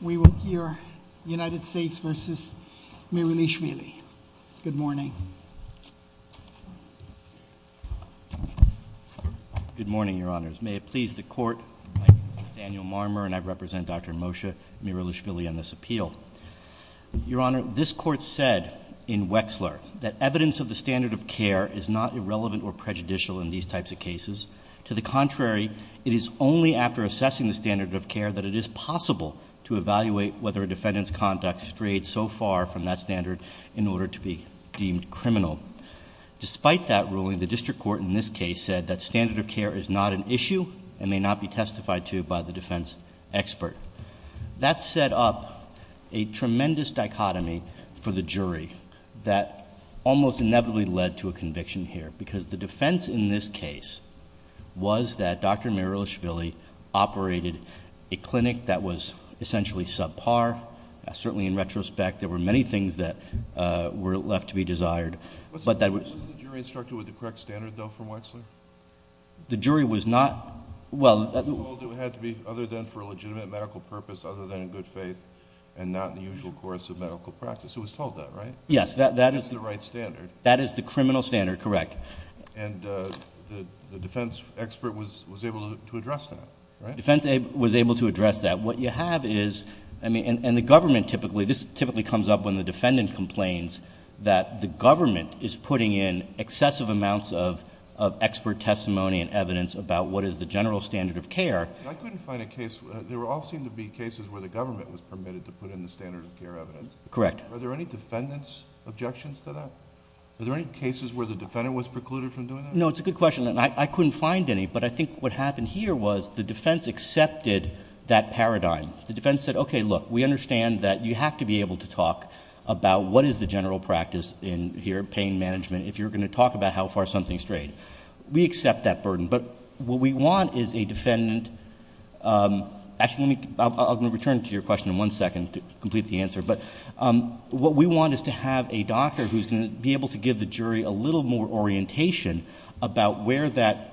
We will hear United States v. Mirilishvili. Good morning. Good morning, Your Honors. May it please the Court, I'm Daniel Marmer, and I represent Dr. Moshe Mirilishvili on this appeal. Your Honor, this Court said in Wexler that evidence of the standard of care is not irrelevant or prejudicial in these types of cases. To the contrary, it is only after assessing the standard of care that it is possible to evaluate whether a defendant's conduct strayed so far from that standard in order to be deemed criminal. Despite that ruling, the district court in this case said that standard of care is not an issue and may not be testified to by the defense expert. That set up a tremendous dichotomy for the jury that almost inevitably led to a conviction here because the defense in this case was that Dr. Mirilishvili operated a clinic that was essentially subpar. Certainly in retrospect, there were many things that were left to be desired. But that was- Wasn't the jury instructed with the correct standard, though, from Wexler? The jury was not- Well- They were told it had to be other than for a legitimate medical purpose, other than in good faith, and not in the usual course of medical practice. It was told that, right? Yes, that is- That is the right standard. That is the criminal standard, correct. And the defense expert was able to address that, right? Defense was able to address that. What you have is, and the government typically, this typically comes up when the defendant complains that the government is putting in excessive amounts of expert testimony and evidence about what is the general standard of care. I couldn't find a case, there all seem to be cases where the government was permitted to put in the standard of care evidence. Correct. Are there any defendant's objections to that? Are there any cases where the defendant was precluded from doing that? No, it's a good question. And I couldn't find any, but I think what happened here was the defense accepted that paradigm. The defense said, okay, look, we understand that you have to be able to talk about what is the general practice in here, pain management, if you're gonna talk about how far something's strayed. We accept that burden, but what we want is a defendant, actually, I'm gonna return to your question in one second to complete the answer, but what we want is to have a doctor who's gonna be able to give the jury a little more orientation about where that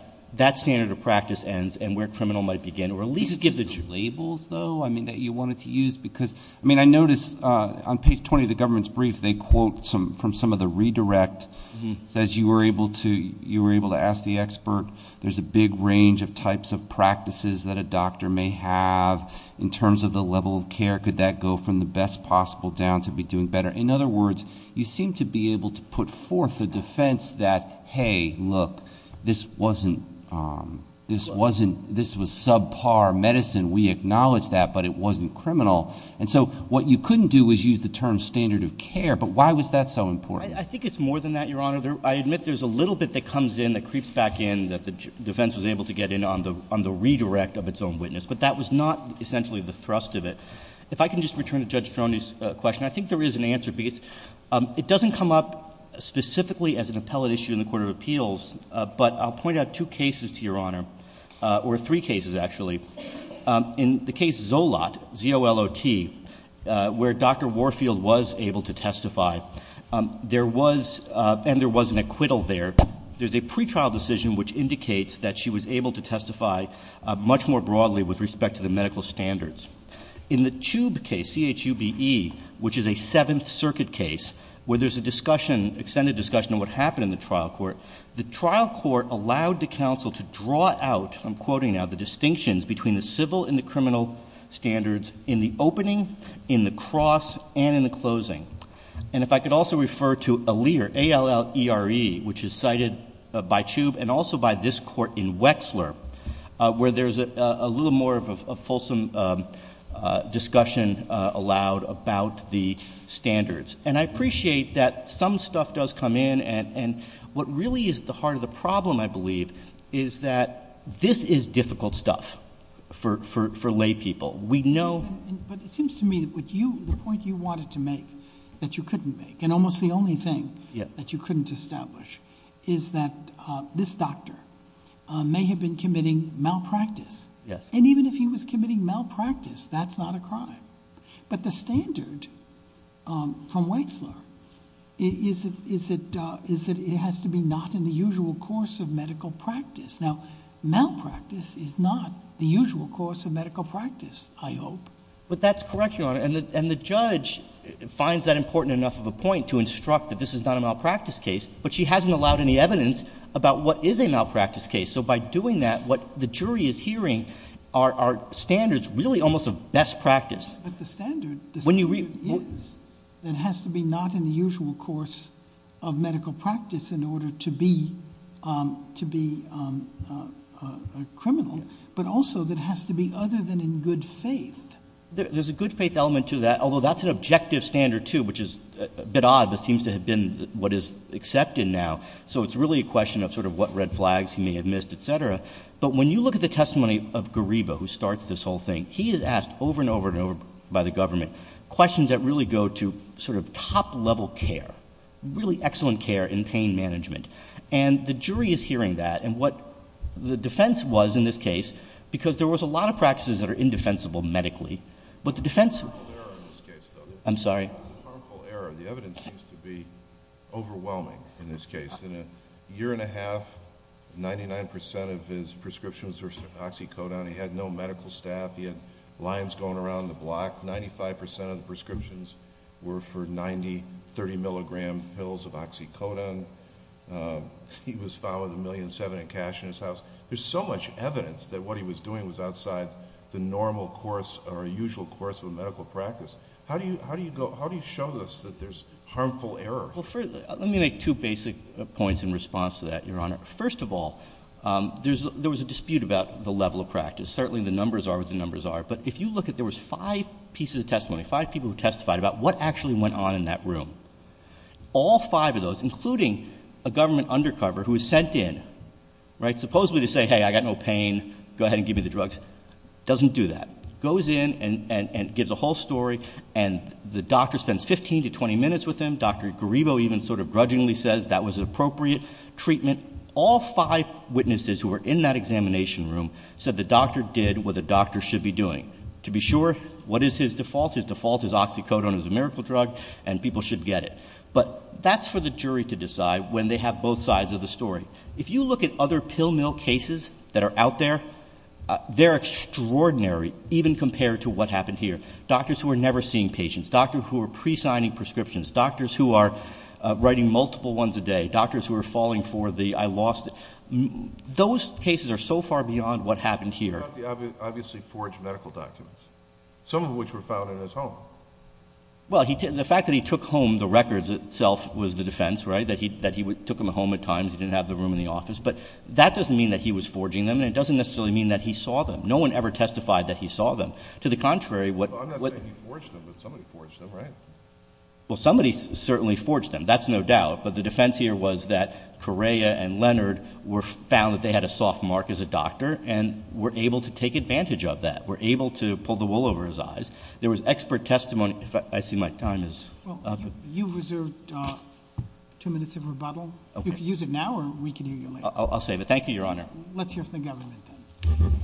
standard of practice ends and where criminal might begin, or at least give the jury. Labels, though, I mean, that you wanted to use, because, I mean, I noticed on page 20 of the government's brief, they quote from some of the redirect, says you were able to ask the expert, there's a big range of types of practices that a doctor may have in terms of the level of care. Could that go from the best possible down to be doing better? In other words, you seem to be able to put forth the defense that, hey, look, this wasn't, this was subpar medicine, we acknowledge that, but it wasn't criminal, and so what you couldn't do was use the term standard of care, but why was that so important? I think it's more than that, Your Honor. I admit there's a little bit that comes in that creeps back in, that the defense was able to get in on the redirect of its own witness, but that was not essentially the thrust of it. If I can just return to Judge Stroni's question, I think there is an answer, because it doesn't come up specifically as an appellate issue in the Court of Appeals, but I'll point out two cases to Your Honor, or three cases, actually. In the case Zolot, Z-O-L-O-T, where Dr. Warfield was able to testify, there was, and there was an acquittal there, there's a pretrial decision which indicates that she was able to testify much more broadly with respect to the medical standards. In the Chube case, C-H-U-B-E, which is a Seventh Circuit case, where there's a discussion, extended discussion of what happened in the trial court, the trial court allowed the counsel to draw out, I'm quoting now, the distinctions between the civil and the criminal standards in the opening, in the cross, and in the closing. And if I could also refer to Allere, A-L-L-E-R-E, which is cited by Chube, and also by this court in Wexler, where there's a little more of a fulsome discussion allowed about the standards. And I appreciate that some stuff does come in, and what really is at the heart of the problem, I believe, is that this is difficult stuff for lay people. We know. But it seems to me that what you, the point you wanted to make, that you couldn't make, and almost the only thing that you couldn't establish, is that this doctor may have been committing malpractice. And even if he was committing malpractice, that's not a crime. But the standard from Wexler is that it has to be not in the usual course of medical practice. Now, malpractice is not the usual course of medical practice, I hope. But that's correct, Your Honor. And the judge finds that important enough of a point to instruct that this is not a malpractice case, but she hasn't allowed any evidence about what is a malpractice case. So by doing that, what the jury is hearing are standards really almost of best practice. But the standard is that it has to be not in the usual course of medical practice in order to be a criminal, but also that it has to be other than in good faith. There's a good faith element to that, although that's an objective standard too, which is a bit odd, but seems to have been what is accepted now. So it's really a question of sort of what red flags he may have missed, et cetera. But when you look at the testimony of Gariba, who starts this whole thing, he is asked over and over and over by the government questions that really go to sort of top-level care, really excellent care in pain management. And the jury is hearing that. And what the defense was in this case, because there was a lot of practices that are indefensible medically, but the defense... I'm sorry. It's a harmful error. The evidence seems to be overwhelming in this case. In a year and a half, 99% of his prescriptions were oxycodone. He had no medical staff. He had lines going around the block. 95% of the prescriptions were for 90, 30 milligram pills of oxycodone. He was found with a million seven in cash in his house. There's so much evidence that what he was doing was outside the normal course or usual course of medical practice. How do you show this, that there's harmful error? Let me make two basic points in response to that, Your Honor. First of all, there was a dispute about the level of practice. Certainly the numbers are what the numbers are. But if you look at, there was five pieces of testimony, five people who testified about what actually went on in that room. All five of those, including a government undercover who was sent in, right? Supposedly to say, hey, I got no pain. Go ahead and give me the drugs. Doesn't do that. Goes in and gives a whole story. And the doctor spends 15 to 20 minutes with him. Dr. Garibo even sort of grudgingly says that was appropriate treatment. All five witnesses who were in that examination room said the doctor did what the doctor should be doing. To be sure, what is his default? His default is oxycodone is a miracle drug and people should get it. But that's for the jury to decide when they have both sides of the story. If you look at other pill mill cases that are out there, they're extraordinary even compared to what happened here. Doctors who are never seeing patients, doctor who are presigning prescriptions, doctors who are writing multiple ones a day, doctors who are falling for the I lost it. Those cases are so far beyond what happened here. Obviously forged medical documents. Some of which were found in his home. Well, the fact that he took home the records itself was the defense, right? That he took them home at times, he didn't have the room in the office. But that doesn't mean that he was forging them and it doesn't necessarily mean that he saw them. No one ever testified that he saw them. To the contrary, what- I'm not saying he forged them, but somebody forged them, right? Well, somebody certainly forged them. That's no doubt. But the defense here was that Correa and Leonard were found that they had a soft mark as a doctor and were able to take advantage of that. Were able to pull the wool over his eyes. There was expert testimony, if I see my time is- Well, you've reserved two minutes of rebuttal. Okay. You can use it now or we can use it later. I'll save it. Thank you, your honor. Let's hear from the government then.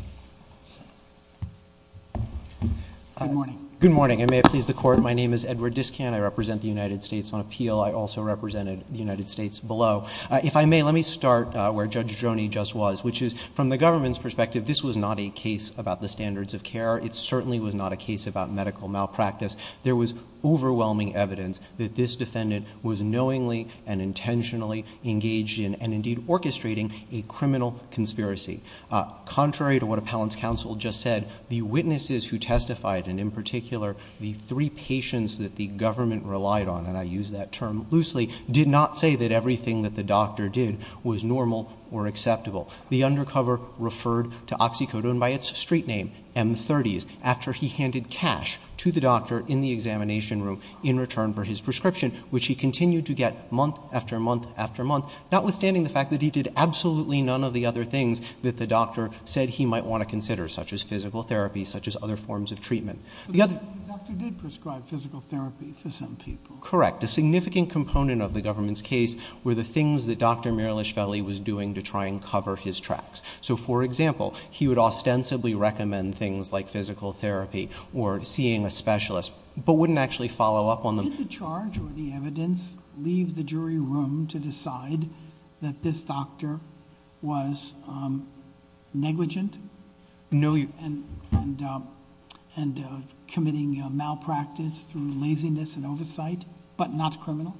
Good morning. Good morning, and may it please the court. My name is Edward Discan. I represent the United States on appeal. I also represented the United States below. If I may, let me start where Judge Joni just was, which is from the government's perspective, this was not a case about the standards of care. It certainly was not a case about medical malpractice. There was overwhelming evidence that this defendant was knowingly and intentionally engaged in, and indeed orchestrating, a criminal conspiracy. Contrary to what Appellant's counsel just said, the witnesses who testified, and in particular, the three patients that the government relied on, and I use that term loosely, did not say that everything that the doctor did was normal or acceptable. The undercover referred to oxycodone by its street name, M30s, after he handed cash to the doctor in the examination room in return for his prescription, which he continued to get month after month after month, notwithstanding the fact that he did absolutely none of the other things that the doctor said he might want to consider, such as physical therapy, such as other forms of treatment. The other thing. The doctor did prescribe physical therapy for some people. Correct, a significant component of the government's case were the things that Dr. Miralichvelli was doing to try and cover his tracks. So for example, he would ostensibly recommend things like physical therapy, or seeing a specialist, but wouldn't actually follow up on them. Did the charge or the evidence leave the jury room to decide that this doctor was negligent? No. And committing malpractice through laziness and oversight, but not criminal?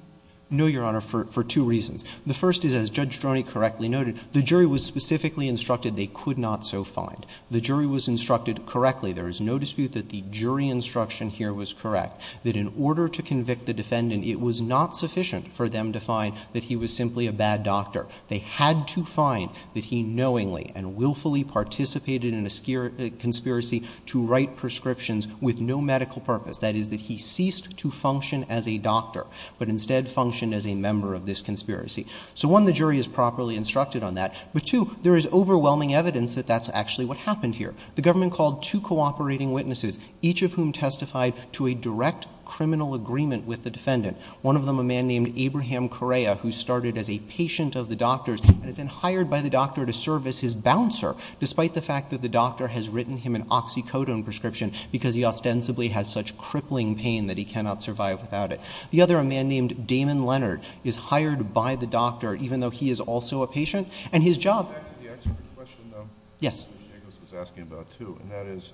No, Your Honor, for two reasons. The first is, as Judge Stroni correctly noted, the jury was specifically instructed they could not so find. The jury was instructed correctly. There is no dispute that the jury instruction here was correct, that in order to convict the defendant, it was not sufficient for them to find that he was simply a bad doctor. They had to find that he knowingly and willfully participated in a conspiracy to write prescriptions with no medical purpose. That is, that he ceased to function as a doctor, but instead functioned as a member of this conspiracy. So one, the jury is properly instructed on that, but two, there is overwhelming evidence that that's actually what happened here. The government called two cooperating witnesses, each of whom testified to a direct criminal agreement with the defendant, one of them a man named Abraham Correa, who started as a patient of the doctor's, and is then hired by the doctor to serve as his bouncer, despite the fact that the doctor has written him an oxycodone prescription, because he ostensibly has such crippling pain that he cannot survive without it. The other, a man named Damon Leonard, is hired by the doctor, even though he is also a patient, and his job. Back to the expert question, though. Yes. Which Nicholas was asking about, too, and that is,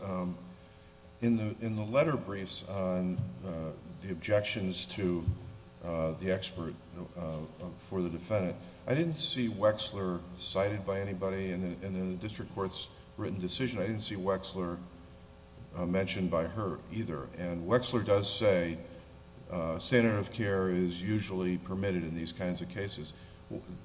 in the letter briefs on the objections to the expert for the defendant, I didn't see Wexler cited by anybody in the district court's written decision. I didn't see Wexler mentioned by her, either. And Wexler does say, standard of care is usually permitted in these kinds of cases.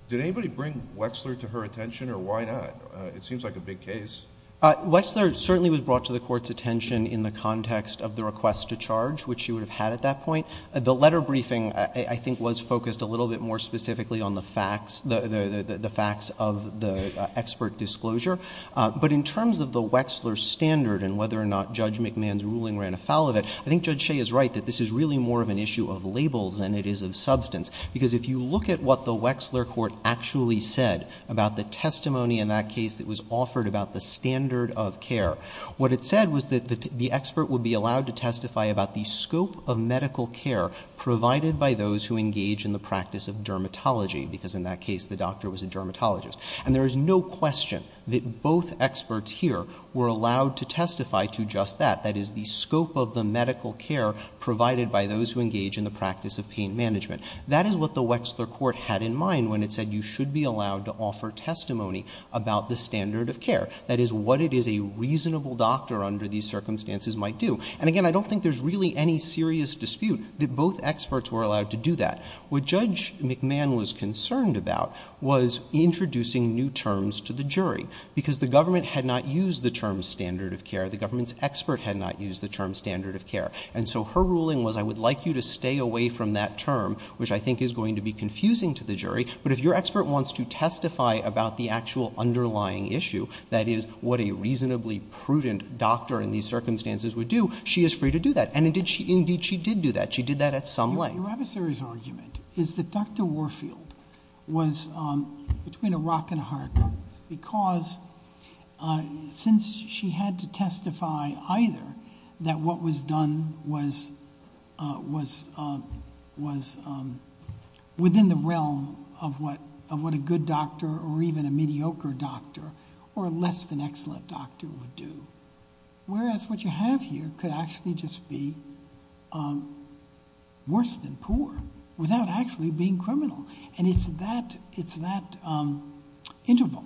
Did anybody bring Wexler to her attention, or why not? It seems like a big case. Wexler certainly was brought to the court's attention in the context of the request to charge, which she would have had at that point. The letter briefing, I think, was focused a little bit more specifically on the facts, the facts of the expert disclosure. But in terms of the Wexler standard, and whether or not Judge McMahon's ruling ran afoul of it, I think Judge Shea is right, that this is really more of an issue of labels than it is of substance. Because if you look at what the Wexler court actually said about the testimony in that case that was offered about the standard of care, what it said was that the expert would be allowed to testify about the scope of medical care provided by those who engage in the practice of dermatology. Because in that case, the doctor was a dermatologist. And there is no question that both experts here were allowed to testify to just that. That is, the scope of the medical care provided by those who engage in the practice of pain management. That is what the Wexler court had in mind when it said you should be allowed to offer testimony about the standard of care. That is what it is a reasonable doctor under these circumstances might do. And again, I don't think there's really any serious dispute that both experts were allowed to do that. What Judge McMahon was concerned about was introducing new terms to the jury. Because the government had not used the term standard of care. The government's expert had not used the term standard of care. And so her ruling was, I would like you to stay away from that term, which I think is going to be confusing to the jury. But if your expert wants to testify about the actual underlying issue, that is, what a reasonably prudent doctor in these circumstances would do, she is free to do that. And indeed, she did do that. She did that at some length. Your adversary's argument is that Dr. Warfield was between a rock and a hard place. Because since she had to testify either that what was done was within the realm of what a good doctor or even a mediocre doctor or less than excellent doctor would do. Whereas what you have here could actually just be worse than poor without actually being criminal. And it's that interval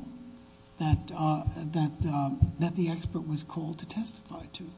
that the expert was called to testify to.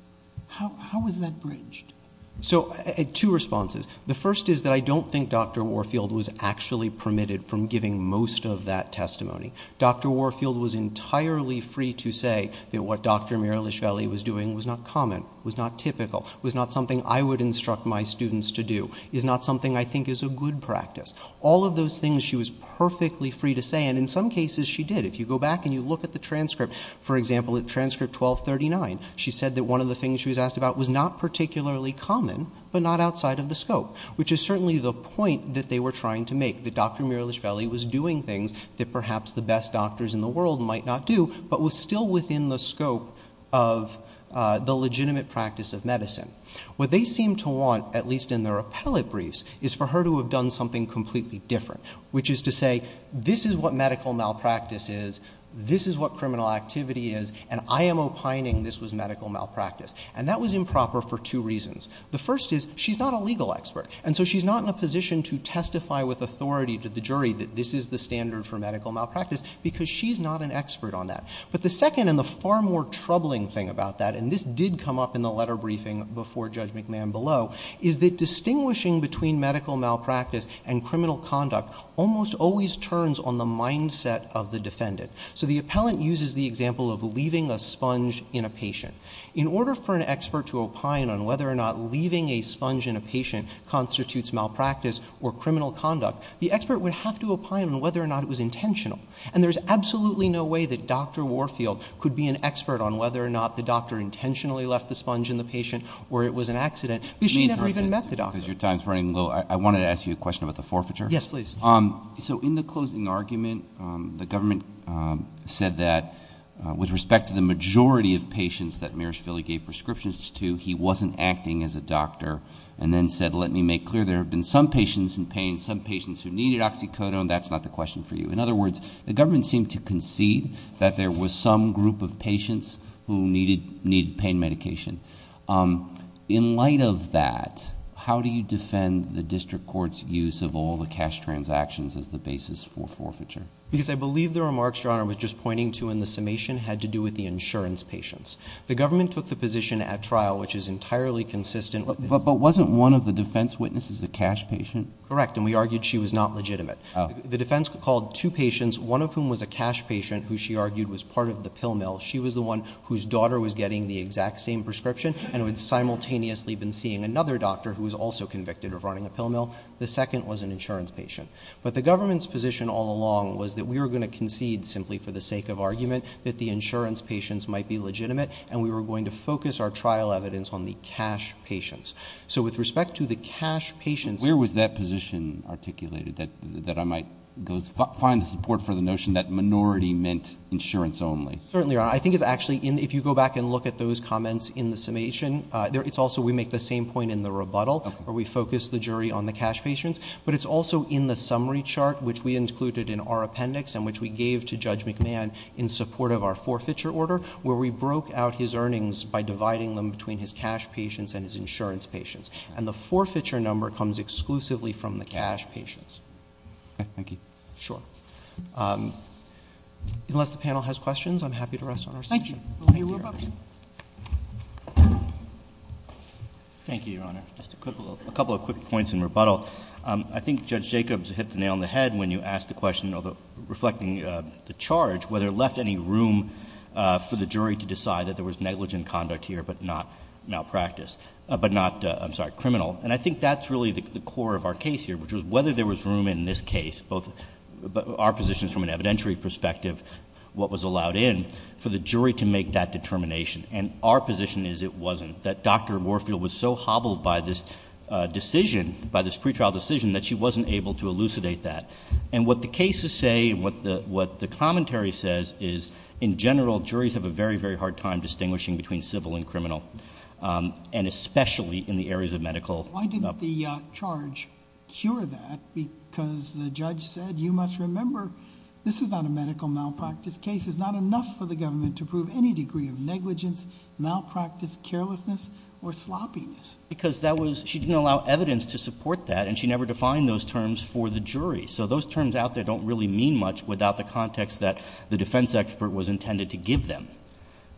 How was that bridged? So two responses. The first is that I don't think Dr. Warfield was actually permitted from giving most of that testimony. Dr. Warfield was entirely free to say that what Dr. Miralichvili was doing was not common, was not typical, was not something I would instruct my students to do, is not something I think is a good practice. All of those things she was perfectly free to say. And in some cases, she did. If you go back and you look at the transcript, for example, at transcript 1239, she said that one of the things she was asked about was not particularly common, but not outside of the scope. Which is certainly the point that they were trying to make. That Dr. Miralichvili was doing things that perhaps the best doctors in the world might not do, but was still within the scope of the legitimate practice of medicine. What they seem to want, at least in their appellate briefs, is for her to have done something completely different. Which is to say, this is what medical malpractice is, this is what criminal activity is, and I am opining this was medical malpractice. And that was improper for two reasons. The first is, she's not a legal expert. And so she's not in a position to testify with authority to the jury that this is the standard for medical malpractice because she's not an expert on that. But the second, and the far more troubling thing about that, and this did come up in the letter briefing before Judge McMahon below, is that distinguishing between medical malpractice and criminal conduct almost always turns on the mindset of the defendant. So the appellant uses the example of leaving a sponge in a patient. In order for an expert to opine on whether or not leaving a sponge in a patient constitutes malpractice or criminal conduct, the expert would have to opine on whether or not it was intentional. And there's absolutely no way that Dr. Warfield could be an expert on whether or not the doctor intentionally left the sponge in the patient, or it was an accident, because she never even met the doctor. Because your time's running low. I wanted to ask you a question about the forfeiture. Yes, please. So in the closing argument, the government said that with respect to the majority of patients that Mirashvili gave prescriptions to, he wasn't acting as a doctor. And then said, let me make clear, there have been some patients in pain, some patients who needed oxycodone. That's not the question for you. In other words, the government seemed to concede that there was some group of patients who needed pain medication. In light of that, how do you defend the district court's use of all the cash transactions as the basis for forfeiture? Because I believe the remarks your honor was just pointing to in the summation had to do with the insurance patients. The government took the position at trial, which is entirely consistent with the defense. But wasn't one of the defense witnesses a cash patient? Correct, and we argued she was not legitimate. The defense called two patients, one of whom was a cash patient who she argued was part of the pill mill. She was the one whose daughter was getting the exact same prescription, and had simultaneously been seeing another doctor who was also convicted of running a pill mill. The second was an insurance patient. But the government's position all along was that we were going to concede simply for the sake of argument that the insurance patients might be legitimate, and we were going to focus our trial evidence on the cash patients. So with respect to the cash patients, where was that position articulated that I might find support for the notion that minority meant insurance only? Certainly, I think it's actually, if you go back and look at those comments in the summation, it's also we make the same point in the rebuttal, where we focus the jury on the cash patients. But it's also in the summary chart, which we included in our appendix, and which we gave to Judge McMahon in support of our forfeiture order, where we broke out his earnings by dividing them between his cash patients and his insurance patients. And the forfeiture number comes exclusively from the cash patients. OK, thank you. Sure. Unless the panel has questions, I'm happy to rest on our session. Thank you. We'll take your questions. Thank you, Your Honor. A couple of quick points in rebuttal. I think Judge Jacobs hit the nail on the head when you asked the question, reflecting the charge, whether it left any room for the jury to decide that there was negligent conduct here, but not malpractice. I'm sorry, criminal. And I think that's really the core of our case here, which was whether there was room in this case, both our positions from an evidentiary perspective, what was allowed in, for the jury to make that determination. And our position is it wasn't, that Dr. Warfield was so hobbled by this decision, by this pretrial decision, that she wasn't able to elucidate that. And what the cases say, and what the commentary says, distinguishing between civil and criminal. And especially in the areas of medical. Why did the charge cure that? Because the judge said, you must remember, this is not a medical malpractice case. It's not enough for the government to prove any degree of negligence, malpractice, carelessness, or sloppiness. Because she didn't allow evidence to support that, and she never defined those terms for the jury. So those terms out there don't really mean much without the context that the defense expert was intended to give them.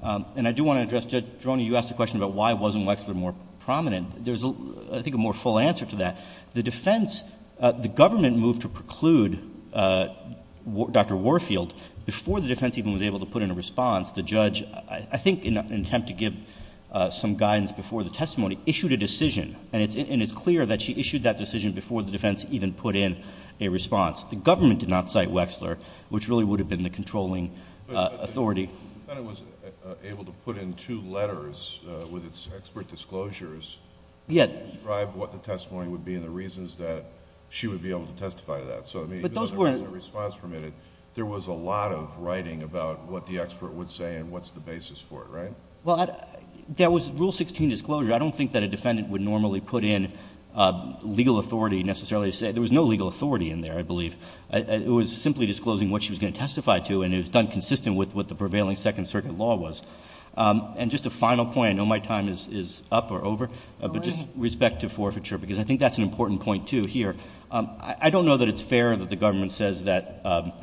And I do want to address, Judge Drony, you asked the question about why wasn't Wexler more prominent. There's, I think, a more full answer to that. The defense, the government moved to preclude Dr. Warfield before the defense even was able to put in a response. The judge, I think in an attempt to give some guidance before the testimony, issued a decision. And it's clear that she issued that decision before the defense even put in a response. The government did not cite Wexler, which really would have been the controlling authority. The defendant was able to put in two letters with its expert disclosures to describe what the testimony would be and the reasons that she would be able to testify to that. So even though there wasn't a response from it, there was a lot of writing about what the expert would say and what's the basis for it, right? Well, there was Rule 16 disclosure. I don't think that a defendant would normally put in legal authority necessarily to say. There was no legal authority in there, I believe. It was simply disclosing what she was going to testify to, and it was done consistent with what the prevailing Second Circuit law was. And just a final point, I know my time is up or over, but just with respect to forfeiture, because I think that's an important point, too, here. I don't know that it's fair that the government says that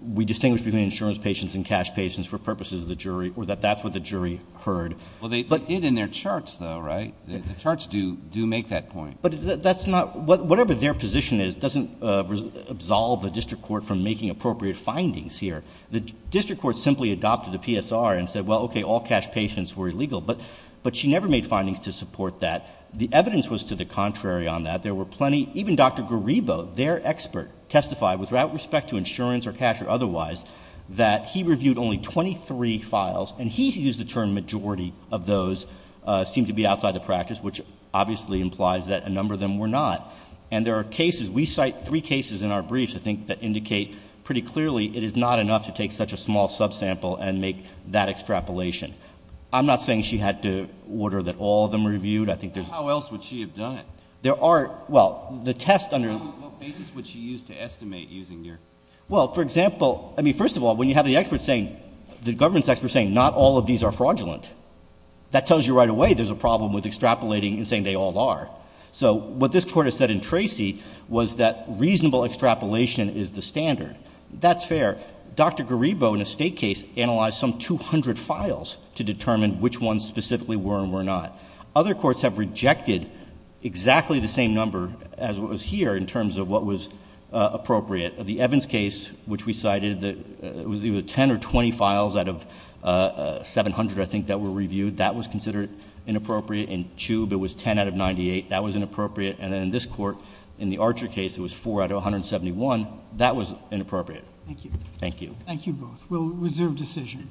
we distinguish between insurance patients and cash patients for purposes of the jury, or that that's what the jury heard. Well, they did in their charts, though, right? The charts do make that point. But that's not, whatever their position is, doesn't absolve the district court from making appropriate findings here. The district court simply adopted a PSR and said, well, OK, all cash patients were illegal. But she never made findings to support that. The evidence was to the contrary on that. There were plenty. Even Dr. Garibo, their expert, testified, with respect to insurance or cash or otherwise, that he reviewed only 23 files. And he used the term majority of those seemed to be outside the practice, which obviously implies that a number of them were not. And there are cases, we cite three cases in our briefs, I think, that indicate pretty clearly it is not enough to take such a small subsample and make that extrapolation. I'm not saying she had to order that all of them reviewed. I think there's How else would she have done it? There are, well, the test under What basis would she use to estimate using your? Well, for example, I mean, first of all, when you have the government's expert saying, not all of these are fraudulent, that tells you right away there's a problem with extrapolating and saying they all are. So what this court has said in Tracy was that reasonable extrapolation is the standard. That's fair. Dr. Garibo, in a state case, analyzed some 200 files to determine which ones specifically were and were not. Other courts have rejected exactly the same number as what was here in terms of what was appropriate. The Evans case, which we cited, it was either 10 or 20 files out of 700, I think, that were reviewed. That was considered inappropriate. In Chube, it was 10 out of 98. That was inappropriate. And then in this court, in the Archer case, it was 4 out of 171. That was inappropriate. Thank you. Thank you. Thank you both. We'll reserve decision.